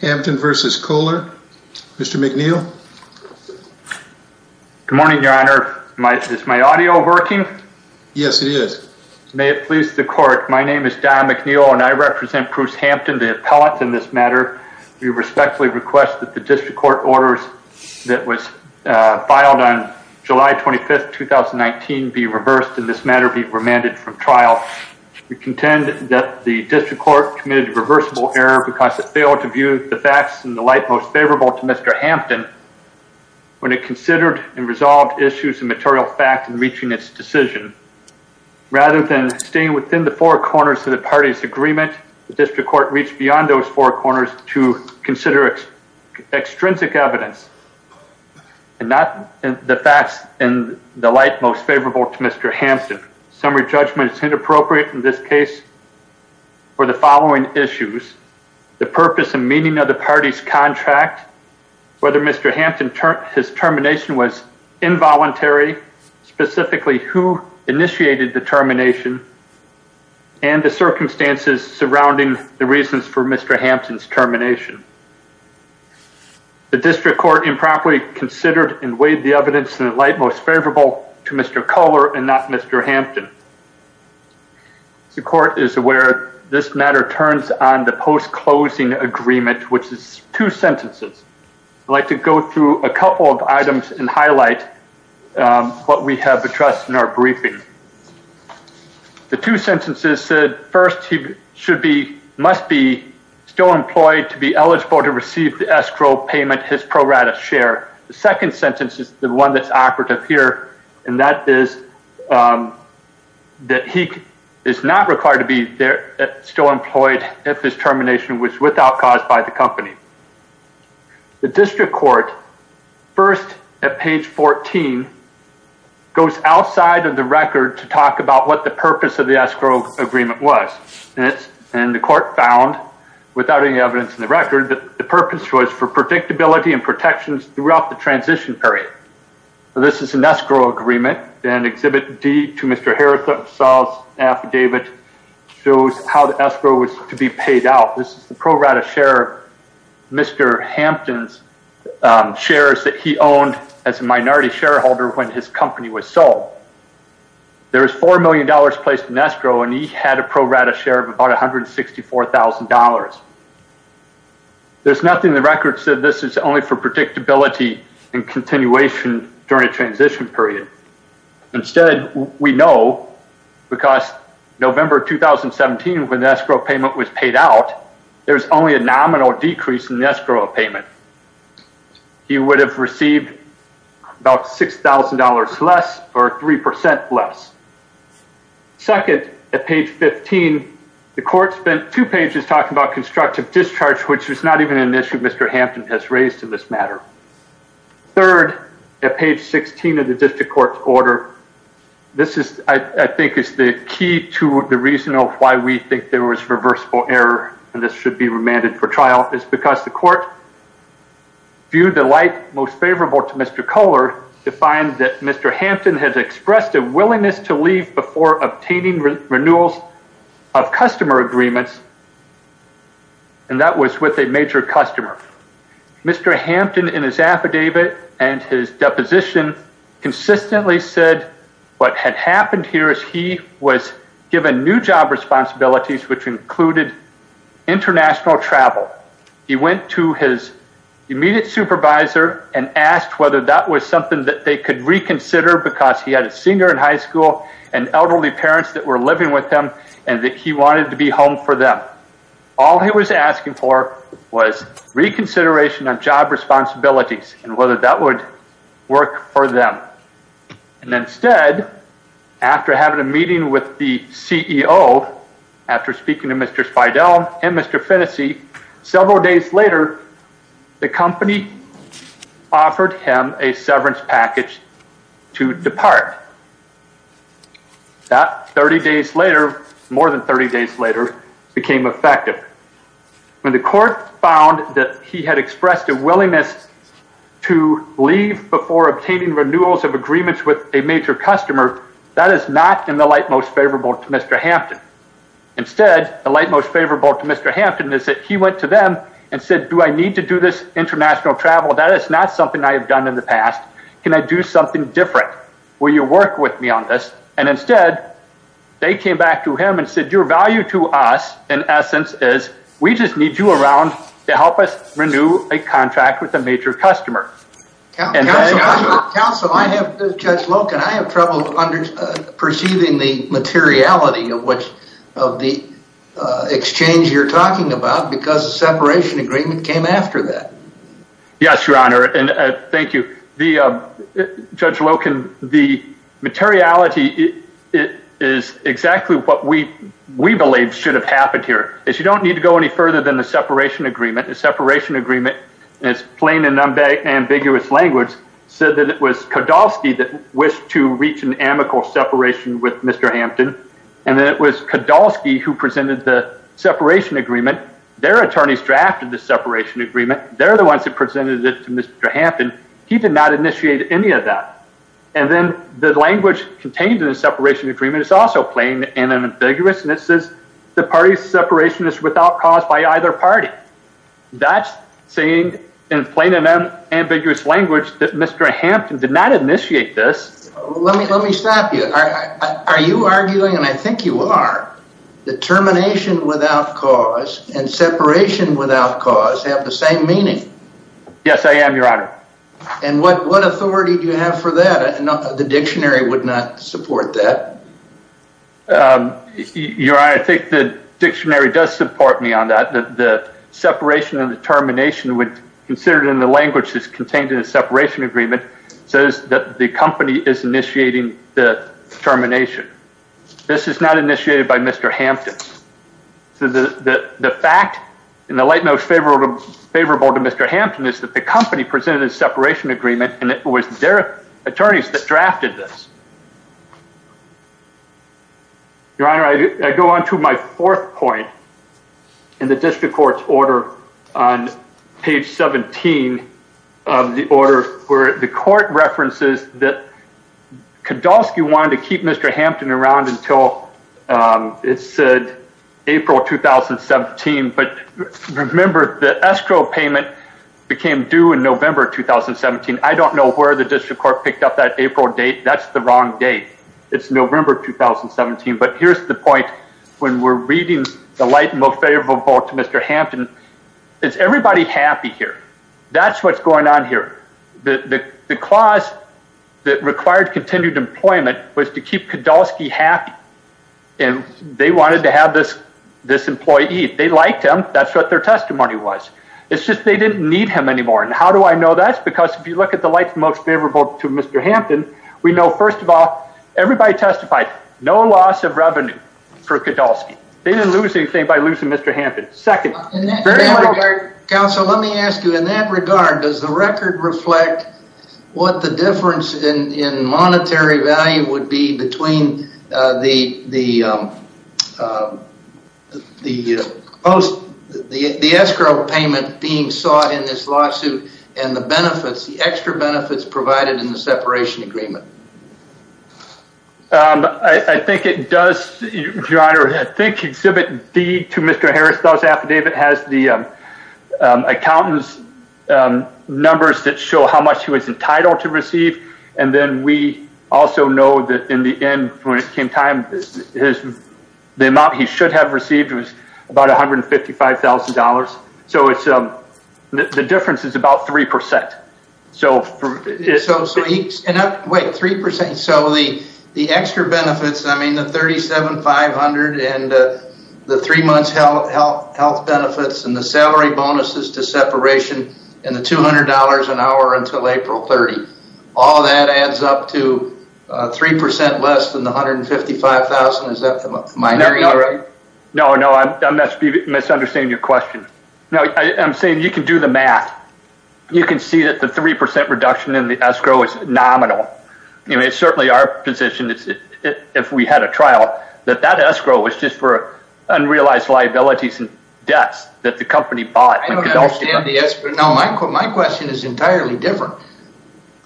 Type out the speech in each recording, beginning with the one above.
Hampton versus Kohler. Mr. McNeil. Good morning your honor. Is my audio working? Yes it is. May it please the court my name is Don McNeil and I represent Bruce Hampton the appellant in this matter. We respectfully request that the district court orders that was filed on July 25th 2019 be reversed in this matter be remanded from trial. We contend that the district court committed a reversible error because it failed to view the facts and the light most favorable to Mr. Hampton when it considered and resolved issues of material fact in reaching its decision. Rather than staying within the four corners of the party's agreement the district court reached beyond those four corners to consider its extrinsic evidence and not the facts and the light most favorable to Mr. Hampton. Summary judgment is inappropriate in this case for the purpose and meaning of the party's contract, whether Mr. Hampton his termination was involuntary, specifically who initiated the termination, and the circumstances surrounding the reasons for Mr. Hampton's termination. The district court improperly considered and weighed the evidence in the light most favorable to Mr. Kohler and not Mr. Hampton. The court is aware this matter turns on the post-closing agreement which is two sentences. I'd like to go through a couple of items and highlight what we have addressed in our briefing. The two sentences said first he should be must be still employed to be eligible to receive the escrow payment his pro rata share. The second sentence is the one that's operative here and that is that he is not required to be there still employed if his termination was without cause by the company. The district court first at page 14 goes outside of the record to talk about what the purpose of the escrow agreement was and it's and the court found without any evidence in the record that the purpose was for predictability and protections throughout the transition period. This is an escrow agreement and exhibit D to Mr. Harris saws affidavit shows how the escrow was to be paid out. This is the pro rata share Mr. Hampton's shares that he owned as a minority shareholder when his company was sold. There was four million dollars placed in escrow and he had a pro rata share of about a hundred sixty four thousand dollars. There's nothing the record said this is only for predictability and continuation during a transition period. Instead we know because November 2017 when the escrow payment was paid out there's only a nominal decrease in the escrow payment. He would have received about six thousand dollars less or three percent less. Second at page 15 the court spent two pages talking about constructive discharge which was not even an issue Mr. Hampton has raised in this matter. Third at page 16 of the district court's order this is I think is the key to the reason of why we think there was reversible error and this should be remanded for trial is because the court viewed the light most favorable to Mr. Kohler to find that Mr. Hampton has expressed a willingness to leave before obtaining renewals of customer agreements and that was with a major customer. Mr. Hampton in his affidavit and his deposition consistently said what had happened here is he was given new job responsibilities which included international travel. He went to his immediate supervisor and asked whether that was something that they could reconsider because he had a singer in high school and elderly parents that he wanted to be home for them. All he was asking for was reconsideration on job responsibilities and whether that would work for them and instead after having a meeting with the CEO after speaking to Mr. Spidell and Mr. Finnessey several days later the company offered him a severance package to depart. That 30 days later more than 30 days later became effective. When the court found that he had expressed a willingness to leave before obtaining renewals of agreements with a major customer that is not in the light most favorable to Mr. Hampton. Instead the light most favorable to Mr. Hampton is that he went to them and said do I need to do this international travel that is not something I have done in the past can I do something different will you work with me on this and instead they came back to him and said your value to us in essence is we just need you around to help us renew a contract with a major customer. Counselor, I have trouble perceiving the materiality of which of the exchange you're talking about because the separation agreement came after that. Yes your honor and thank you. Judge Loken the materiality is exactly what we we believe should have happened here is you don't need to go any further than the separation agreement. The separation agreement is plain and ambiguous language said that it was Kodolsky that wished to reach an amicable separation with Mr. Hampton and then it was Kodolsky who presented the separation agreement. Their attorneys drafted the separation agreement. They're the ones that presented it to Mr. Hampton. He did not initiate any of that and then the language contained in the separation agreement is also plain and ambiguous and it says the parties separation is without cause by either party. That's saying in plain and ambiguous language that Mr. Hampton did not initiate this. Let me stop you. Are you arguing and I think you are determination without cause and separation without cause have the same meaning. Yes I am your honor. And what what authority do you have for that? The dictionary would not support that. Your honor I think the dictionary does support me on that. The separation and determination would considered in the language that's contained in a separation agreement says that the company is initiating the termination. This is not initiated by Mr. Hampton. So the fact in the light most favorable to Mr. Hampton is that the company presented a separation agreement and it was their attorneys that drafted this. Your honor I go on to my fourth point in the district court's order on page 17 of the order where the court references that Kodolsky wanted to keep Mr. Hampton around until it said April 2017 but remember the escrow payment became due in November 2017. I don't know where the district court picked up that April date that's the wrong date. It's November 2017 but here's the point when we're reading the light and most favorable vote to Mr. Hampton. Is everybody happy here? That's what's going on here. The clause that required continued employment was to keep Kodolsky happy and they wanted to have this this employee. They liked him that's what their testimony was. It's just they didn't need him anymore and how do I know that's because if you look at the lights most favorable to Mr. Hampton we know first of all everybody testified no loss of revenue for Kodolsky. They didn't lose anything by losing Mr. Hampton. Second very much. Counsel let me ask you in that regard does the record reflect what the difference in monetary value would be between the the post the escrow payment being sought in this lawsuit and the benefits the extra benefits provided in the separation agreement? I think it does. I think exhibit B to Mr. Harris does affidavit has the accountants numbers that show how much he was entitled to receive and then we also know that in the end when it came time his the amount he should have received was about a hundred and fifty five thousand dollars. So it's um the difference is about three percent. So three percent so the the extra benefits I mean the thirty seven five hundred and the three months health health health benefits and the salary bonuses to April 30. All that adds up to three percent less than the hundred and fifty five thousand is that the minority? No no I must be misunderstanding your question. No I'm saying you can do the math. You can see that the three percent reduction in the escrow is nominal. You know it's certainly our position if we had a trial that that escrow was just for unrealized liabilities and debts that the company bought. I don't understand the escrow. No my question is entirely different.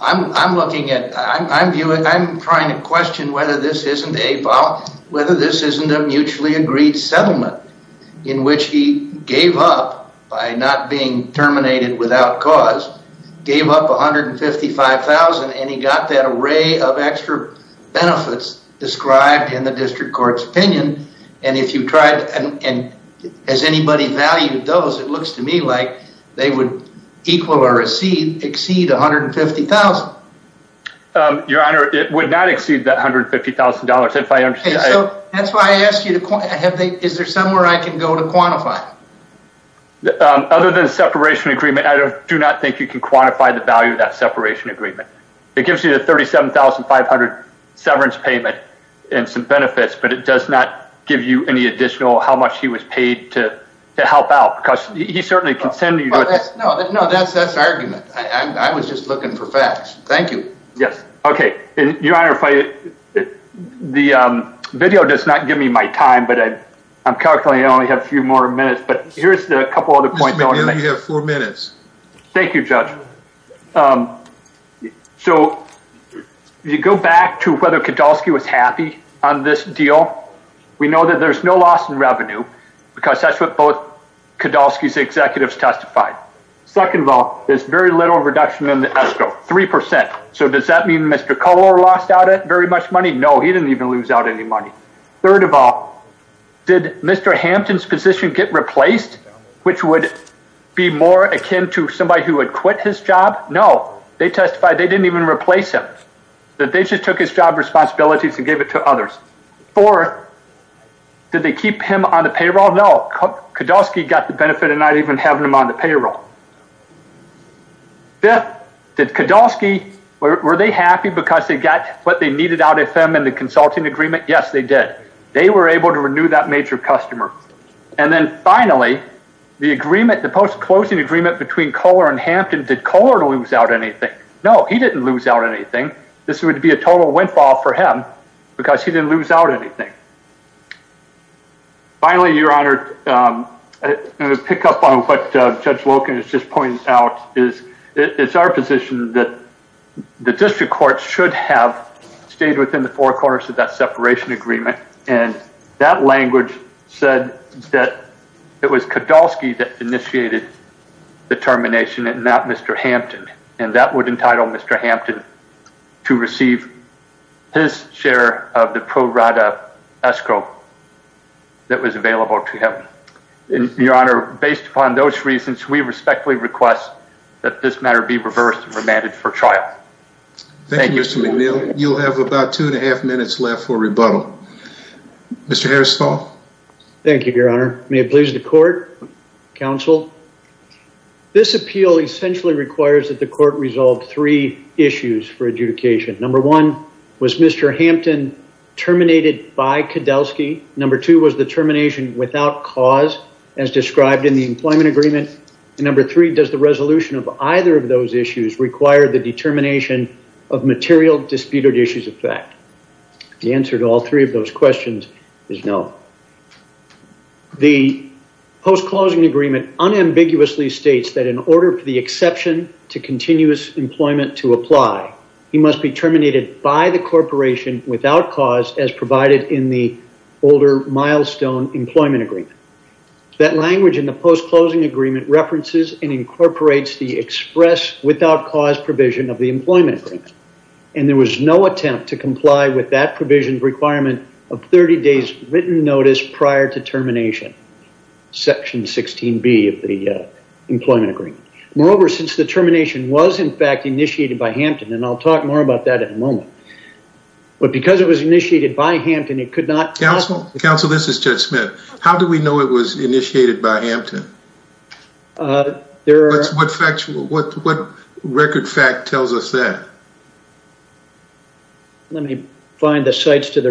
I'm looking at I'm viewing I'm trying to question whether this isn't a whether this isn't a mutually agreed settlement in which he gave up by not being terminated without cause gave up a hundred and fifty five thousand and he got that array of extra benefits described in the district court's it looks to me like they would equal or exceed exceed a hundred and fifty thousand. Your honor it would not exceed that hundred fifty thousand dollars if I understand. That's why I asked you to have they is there somewhere I can go to quantify? Other than a separation agreement I don't do not think you can quantify the value of that separation agreement. It gives you the thirty seven thousand five hundred severance payment and some benefits but it does not give you any additional how much he was paid to help out because he certainly consented. No that's that's argument. I was just looking for facts. Thank you. Yes okay. Your honor if I the video does not give me my time but I I'm calculating I only have a few more minutes but here's the couple other points. You have four minutes. Thank you judge. So you go back to whether there's no loss in revenue because that's what both Kodalski's executives testified. Second of all there's very little reduction in the ESCO. Three percent. So does that mean Mr. Kohler lost out it very much money? No he didn't even lose out any money. Third of all did Mr. Hampton's position get replaced which would be more akin to somebody who had quit his job? No they testified they didn't even replace him. That they just took his job responsibilities and gave it to others. Fourth, did they keep him on the payroll? No. Kodalski got the benefit of not even having him on the payroll. Fifth, did Kodalski were they happy because they got what they needed out of them in the consulting agreement? Yes they did. They were able to renew that major customer. And then finally the agreement the post-closing agreement between Kohler and Hampton did Kohler lose out anything? No he didn't lose out anything. This would be a total windfall for him because he didn't lose out anything. Finally your honor pick up on what Judge Loken has just pointed out is it's our position that the district court should have stayed within the four corners of that separation agreement and that language said that it was Kodalski that initiated the termination and not Mr. Hampton and that would entitle Mr. Hampton to receive his share of the pro-rata escrow that was available to him. Your honor based upon those reasons we respectfully request that this matter be reversed and remanded for trial. Thank you Mr. McNeil. You'll have about two and a half minutes left for rebuttal. Mr. Harrisfall. Thank you your honor. May it please the court, counsel. This appeal essentially requires that the number one was Mr. Hampton terminated by Kodalski, number two was the termination without cause as described in the employment agreement, and number three does the resolution of either of those issues require the determination of material disputed issues of fact. The answer to all three of those questions is no. The post-closing agreement unambiguously states that in order for the exception to continuous employment to apply, he must be terminated by the corporation without cause as provided in the older milestone employment agreement. That language in the post-closing agreement references and incorporates the express without cause provision of the employment agreement and there was no attempt to comply with that provision requirement of 30 days written notice prior to termination. Section 16B of the employment agreement. Moreover, since the termination was in fact initiated by Hampton, and I'll talk more about that in a moment, but because it was initiated by Hampton it could not counsel counsel this is Judge Smith. How do we know it was initiated by Hampton? What record fact tells us that? Let me find the sites to the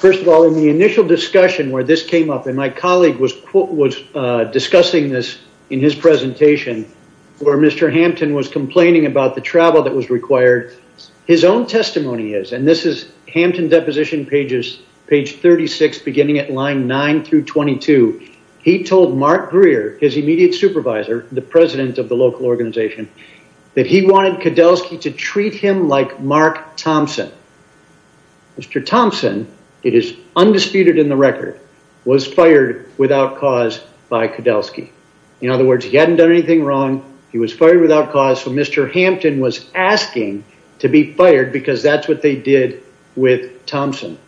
First of all, in the initial discussion where this came up, and my colleague was discussing this in his presentation, where Mr. Hampton was complaining about the travel that was required, his own testimony is, and this is Hampton deposition pages page 36 beginning at line 9 through 22, he told Mark Greer, his immediate supervisor, the president of the local organization, that he wanted Koudelski to treat him like Mark Thompson. Mr. Thompson, it is undisputed in the record, was fired without cause by Koudelski. In other words, he hadn't done anything wrong, he was fired without cause, so Mr. Hampton was asking to be fired because that's what they did with Thompson.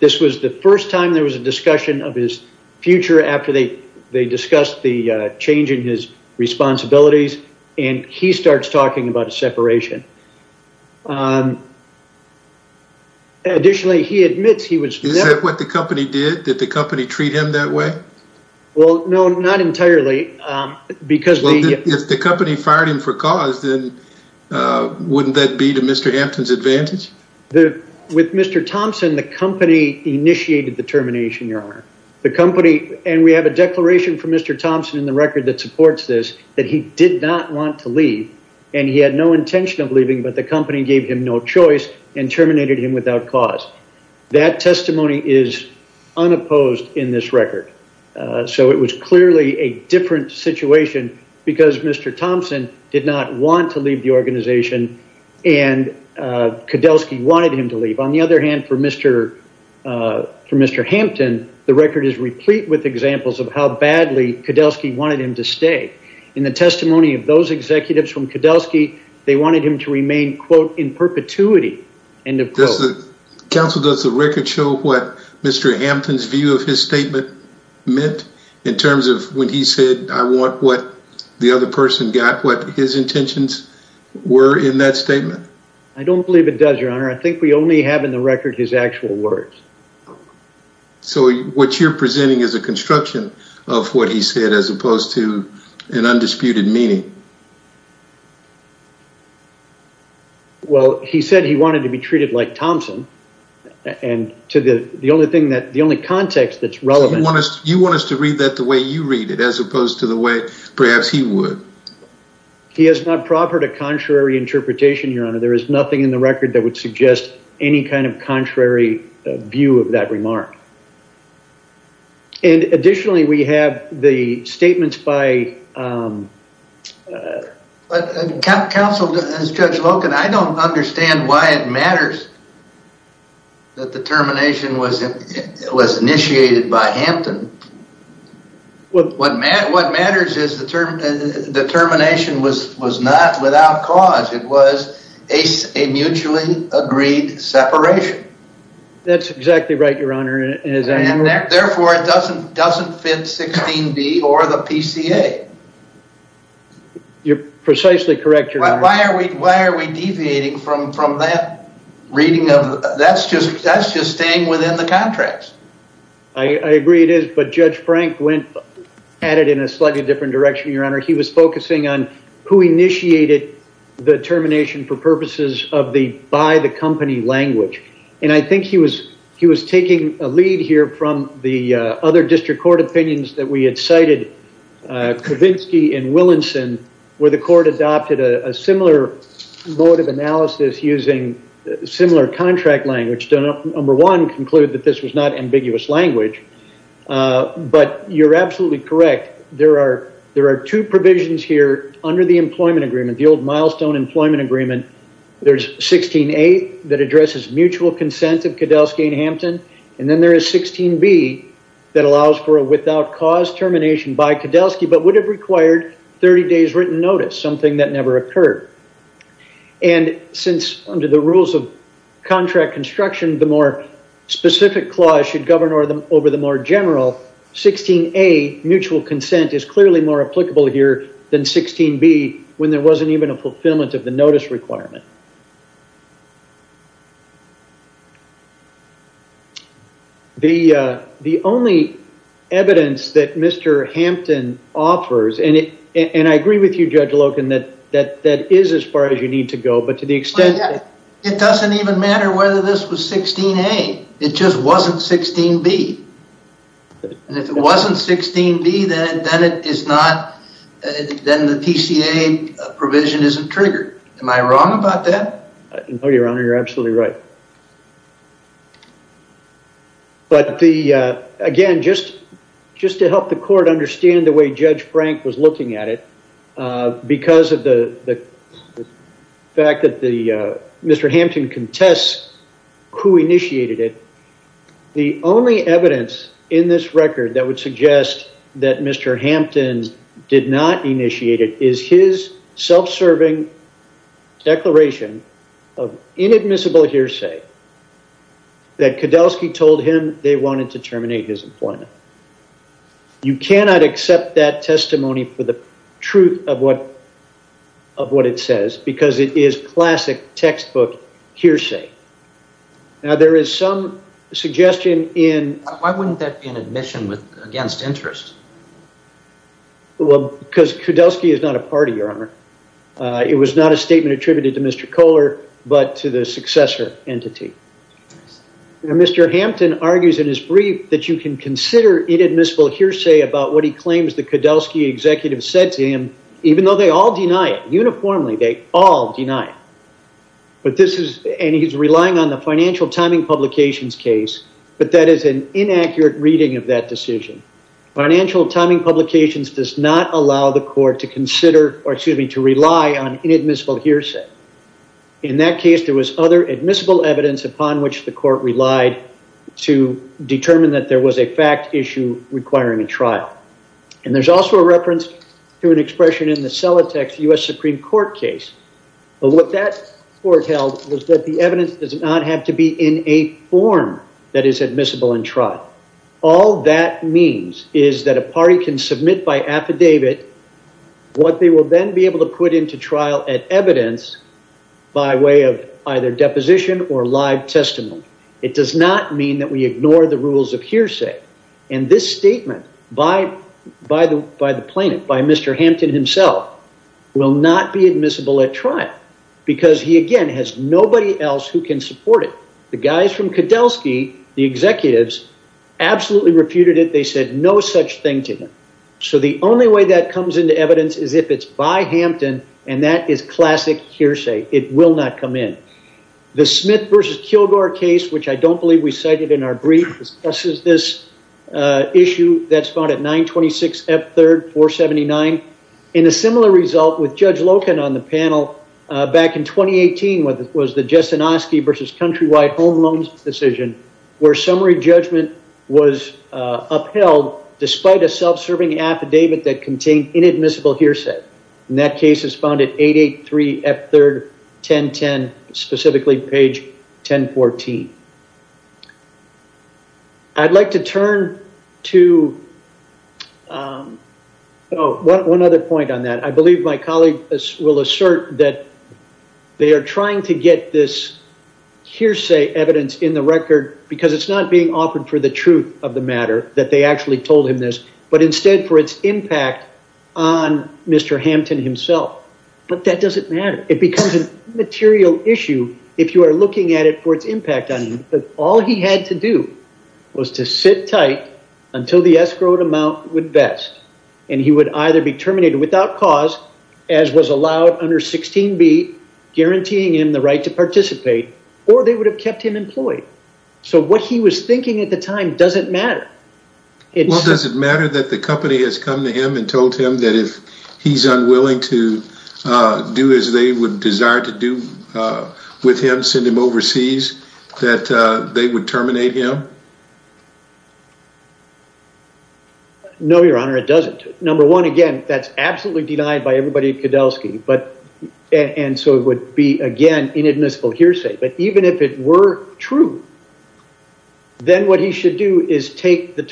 This was the first time there was a discussion of his future after they discussed the change in his responsibilities, and he starts talking about a separation. Additionally, he admits he was... Is that what the company did? Did the company treat him that way? Well, no, not entirely, because... If the company fired him for cause, then wouldn't that be to Mr. Hampton's advantage? With Mr. Thompson, the company initiated the termination, your honor. The company, and we have a record that supports this, that he did not want to leave, and he had no intention of leaving, but the company gave him no choice and terminated him without cause. That testimony is unopposed in this record. So it was clearly a different situation because Mr. Thompson did not want to leave the organization, and Koudelski wanted him to leave. On the other hand, for Mr. Thompson, they wanted him to stay. In the testimony of those executives from Koudelski, they wanted him to remain, quote, in perpetuity, end of quote. Counsel, does the record show what Mr. Hampton's view of his statement meant in terms of when he said, I want what the other person got, what his intentions were in that statement? I don't believe it does, your honor. I think we only have in the record his actual words. So what you're presenting is a construction of what he said as opposed to an undisputed meaning. Well, he said he wanted to be treated like Thompson, and to the only thing that, the only context that's relevant. You want us to read that the way you read it as opposed to the way perhaps he would. He has not proffered a contrary interpretation, your honor. There is nothing in the record that would suggest any kind of the statements by. Counsel, Judge Loken, I don't understand why it matters that the termination was initiated by Hampton. What matters is the termination was not without cause. It was a mutually agreed separation. That's exactly right, your honor. Therefore, it doesn't fit 16B or the PCA. You're precisely correct, your honor. Why are we deviating from that reading of, that's just staying within the contracts. I agree it is, but Judge Frank went at it in a slightly different direction, your honor. He was focusing on who initiated the termination for purposes of the by the company language, and I think he was taking a lead here from the other district court opinions that we had cited, Kavinsky and Willinson, where the court adopted a similar mode of analysis using similar contract language. Number one, conclude that this was not ambiguous language, but you're absolutely correct. There are two provisions here under the employment agreement, the old milestone employment agreement. There's 16A that addresses mutual consent of Koudelski and Hampton, and then there is 16B that allows for a without cause termination by Koudelski, but would have required 30 days written notice, something that never occurred. And since under the rules of contract construction, the more specific clause should govern over the more general, 16A mutual consent is clearly more requirement. The only evidence that Mr. Hampton offers, and I agree with you, Judge Loken, that that is as far as you need to go, but to the extent... It doesn't even matter whether this was 16A. It just wasn't 16B, and if it wasn't 16B, then the PCA provision isn't triggered. Am I wrong about that? No, Your Honor, you're absolutely right. But again, just to help the court understand the way Judge Frank was looking at it, because of the fact that Mr. Hampton contests who initiated it, the only evidence in this record that would suggest that Mr. Hampton did not initiate it is his self-serving declaration of inadmissible hearsay that Koudelski told him they wanted to terminate his employment. You cannot accept that testimony for the truth of what it says, because it is classic textbook hearsay. Now, there is some suggestion in... Why wouldn't that be an admission against interest? Because Koudelski is not a party, Your Honor. It was not a statement attributed to Mr. Kohler, but to the successor entity. Mr. Hampton argues in his brief that you can consider inadmissible hearsay about what he claims the Koudelski executive said to him, even though they all deny it. Uniformly, they all deny it. But this is... And he's relying on the financial timing publications case, but that is an inaccurate reading of that decision. Financial timing publications does not allow the court to consider, or excuse me, to rely on inadmissible hearsay. In that case, there was other admissible evidence upon which the court relied to determine that there was a fact issue requiring a trial. And there's also a reference to an expression in the What that foretold was that the evidence does not have to be in a form that is admissible in trial. All that means is that a party can submit by affidavit what they will then be able to put into trial at evidence by way of either deposition or live testimony. It does not mean that we ignore the rules of hearsay. And this statement by the plaintiff, by Mr. Hampton himself, will not be admissible at trial, because he again has nobody else who can support it. The guys from Kedelski, the executives, absolutely refuted it. They said no such thing to him. So the only way that comes into evidence is if it's by Hampton, and that is classic hearsay. It will not come in. The Smith versus Kilgore case, which I don't believe we cited in our brief, discusses this issue that's found at 926 F3, 479. And a similar result with Judge Loken on the panel back in 2018 was the Jesinoski versus Countrywide Home Loans decision where summary judgment was upheld despite a self-serving affidavit that contained inadmissible hearsay. And that case is found at 883 F3, 1010, specifically page 1014. I'd like to turn to one other point on that. I believe my colleague will assert that they are trying to get this hearsay evidence in the record because it's not being offered for the truth of the matter, that they actually told him this, but instead for its impact on Mr. Hampton himself. But that doesn't matter. It becomes a material issue if you are looking at it for its impact on him. All he had to do was to sit tight until the escrowed amount would vest, and he would either be terminated without cause, as was allowed under 16b, guaranteeing him the right to participate, or they would have kept him employed. So what he was thinking at the time doesn't matter. Well, does it matter that the company has come to him and told him that if he's unwilling to do as they would desire to do with him, send him overseas, that they would terminate him? No, your honor, it doesn't. Number one, again, that's absolutely denied by everybody at Kedelsky, and so it would be, again, inadmissible hearsay. But even if it were true, then what he should do is take the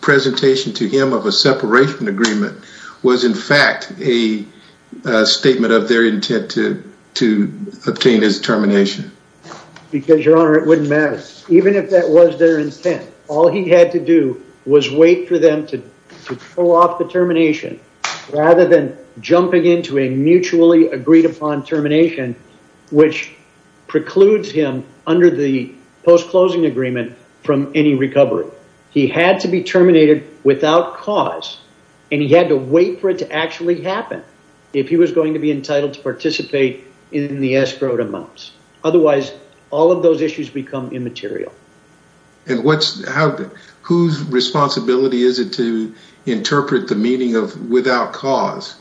presentation to him of a separation agreement was, in fact, a statement of their intent to obtain his termination. Because, your honor, it wouldn't matter. Even if that was their intent, all he had to do was wait for them to pull off the termination, rather than jumping into a mutually agreed-upon termination, which precludes him under the post-closing agreement from any recovery. He had to be terminated without cause, and he had to wait for it to actually happen if he was going to be entitled to participate in the escrowed amounts. Otherwise, all of those issues become immaterial. And whose responsibility is it to interpret the meaning of without cause,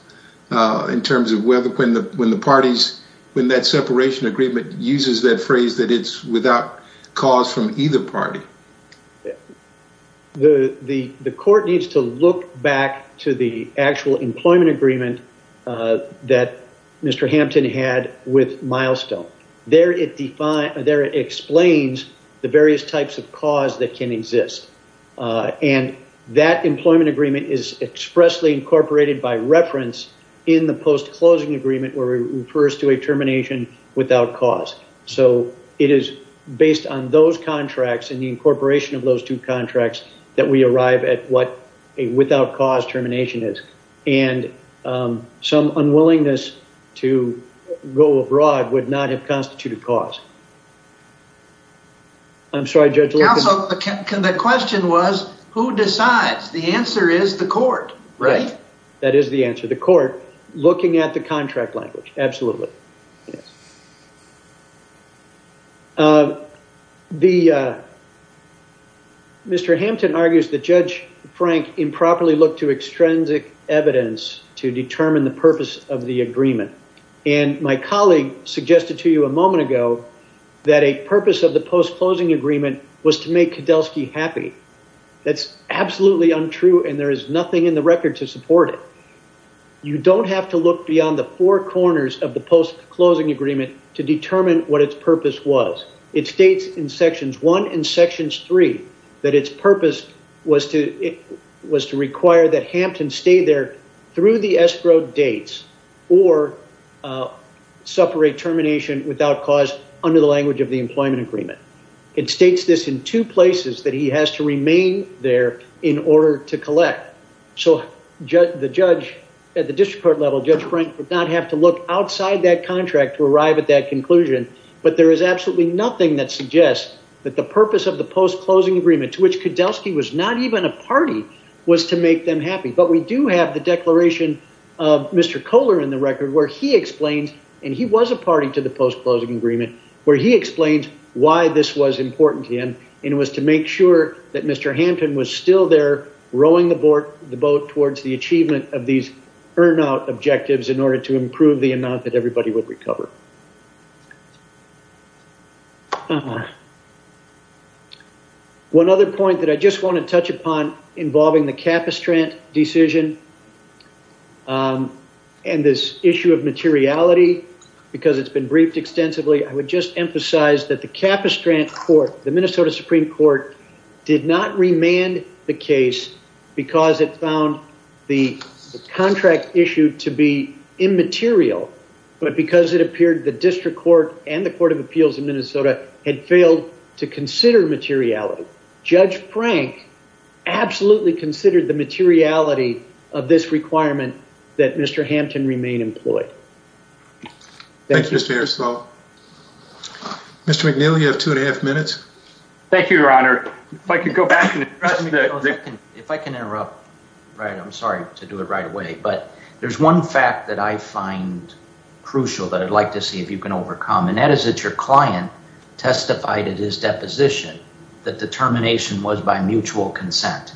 in terms of when the parties, when that separation agreement uses that phrase that it's without cause from either party? The court needs to look back to the actual employment agreement that Mr. Hampton had with Milestone. There it defines, there it explains the various types of cause that can exist. And that employment agreement is expressly incorporated by reference in the post-closing agreement, where it refers to a termination without cause. So it is based on those contracts, and the incorporation of those two contracts, that we arrive at what a without cause termination is. And some unwillingness to go abroad would not have constituted cause. I'm sorry, Judge. The question was, who decides? The answer is the court, right? That is the answer. The court, looking at the contract language, absolutely. Mr. Hampton argues that Judge Frank improperly looked to extrinsic evidence to determine the purpose of the agreement. And my colleague suggested to you a moment ago, that a purpose of the post-closing agreement was to make Kedelsky happy. That's absolutely untrue, and there is nothing in the record to support it. You don't have to look beyond the four corners of the post- closing agreement to determine what its purpose was. It states in sections 1 and sections 3, that its purpose was to require that Hampton stay there through the escrow dates, or suffer a termination without cause under the language of the employment agreement. It states this in two places, that he has to the judge at the district court level, Judge Frank, would not have to look outside that contract to arrive at that conclusion. But there is absolutely nothing that suggests that the purpose of the post-closing agreement, to which Kedelsky was not even a party, was to make them happy. But we do have the declaration of Mr. Kohler in the record, where he explained, and he was a party to the post-closing agreement, where he explained why this was important to him. And it was to make sure that Mr. Hampton was still there, rowing the boat towards the achievement of these burnout objectives, in order to improve the amount that everybody would recover. One other point that I just want to touch upon, involving the Capistrant decision, and this issue of materiality, because it's been briefed extensively, I would just emphasize that the Capistrant court, the Minnesota Supreme Court, did not remand the case because it found the contract issue to be immaterial, but because it appeared the district court and the Court of Appeals in Minnesota had failed to consider materiality. Judge Frank absolutely considered the materiality of this requirement, that Mr. Thank you, Your Honor. If I could go back and address... If I can interrupt, right, I'm sorry to do it right away, but there's one fact that I find crucial that I'd like to see if you can overcome, and that is that your client testified at his deposition that the termination was by mutual consent.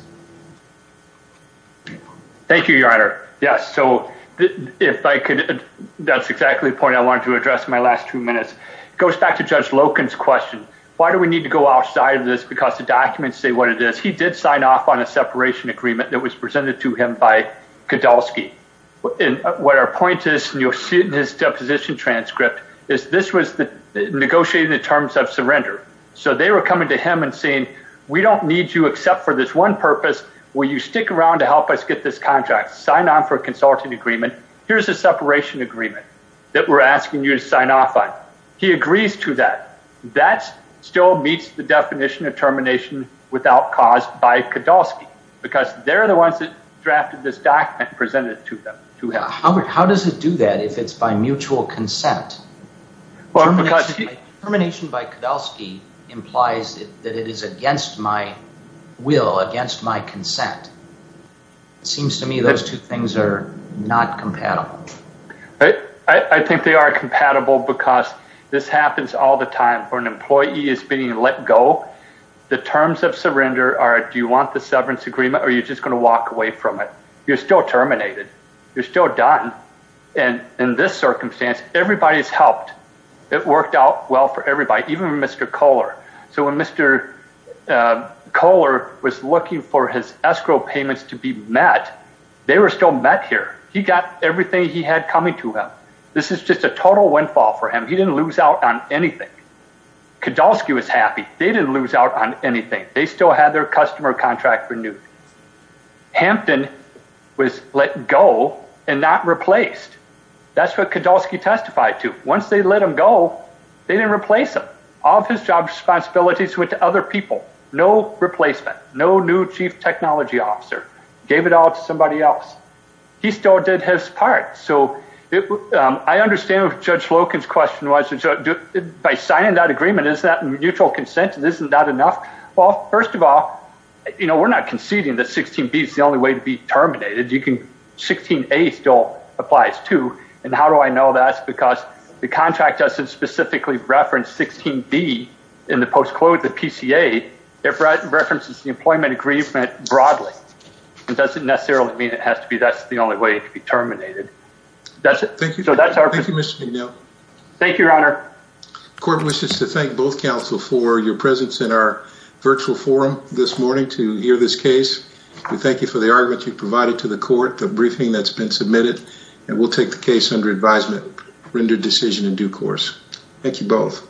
Thank you, Your Honor. Yes, so if I could, that's exactly the point I wanted to address in my last two minutes. It goes back to Judge Loken's question. Why do we need to go outside of this? Because the documents say what it is. He did sign off on a separation agreement that was presented to him by Kedelsky, and what our point is, and you'll see it in his deposition transcript, is this was the negotiating the terms of surrender. So they were coming to him and saying, we don't need you except for this one purpose. Will you stick around to help us get this contract? Sign on for a consulting agreement. Here's a separation agreement that we're asking you to sign off on. He agrees to that. That still meets the definition of termination without cause by Kedelsky, because they're the ones that drafted this document and presented it to him. How does it do that if it's by mutual consent? Termination by Kedelsky implies that it is against my will, against my consent. It seems to me those two things are not compatible. I think they are compatible because this happens all the time for an employee is being let go. The terms of surrender are, do you want the severance agreement or you're just gonna walk away from it? You're still terminated. You're still done. And in this circumstance, everybody's helped. It worked out well for everybody, even Mr. Kohler. So when Mr. Kohler was looking for his escrow payments to be met, they were still met here. He got everything he had coming to him. This is just a total windfall for him. He didn't lose out on anything. Kedelsky was happy. They didn't lose out on anything. They still had their customer contract renewed. Hampton was let go and not replaced. That's what Kedelsky testified to. Once they let him go, they didn't replace him. All of his job responsibilities went to other people. No replacement. No new chief technology officer. Gave it all to somebody else. He still did his part. So I understand if Judge Loken's question was, by signing that agreement, is that neutral consent? Isn't that enough? Well, first of all, you know, we're not conceding that 16B is the only way to be terminated. 16A still applies too. And how do I know that's because the contract doesn't specifically reference 16B in the post-quota PCA. It references the employment agreement broadly. It doesn't necessarily mean it has to be. That's the only way to be terminated. That's it. Thank you. Thank you, Mr. McNeil. Thank you, Your Honor. Court wishes to thank both counsel for your presence in our virtual forum this morning to hear this case. We thank you for the argument you've provided to the court, the briefing that's been submitted, and we'll take the case under advisement, render decision in due course. Thank you both.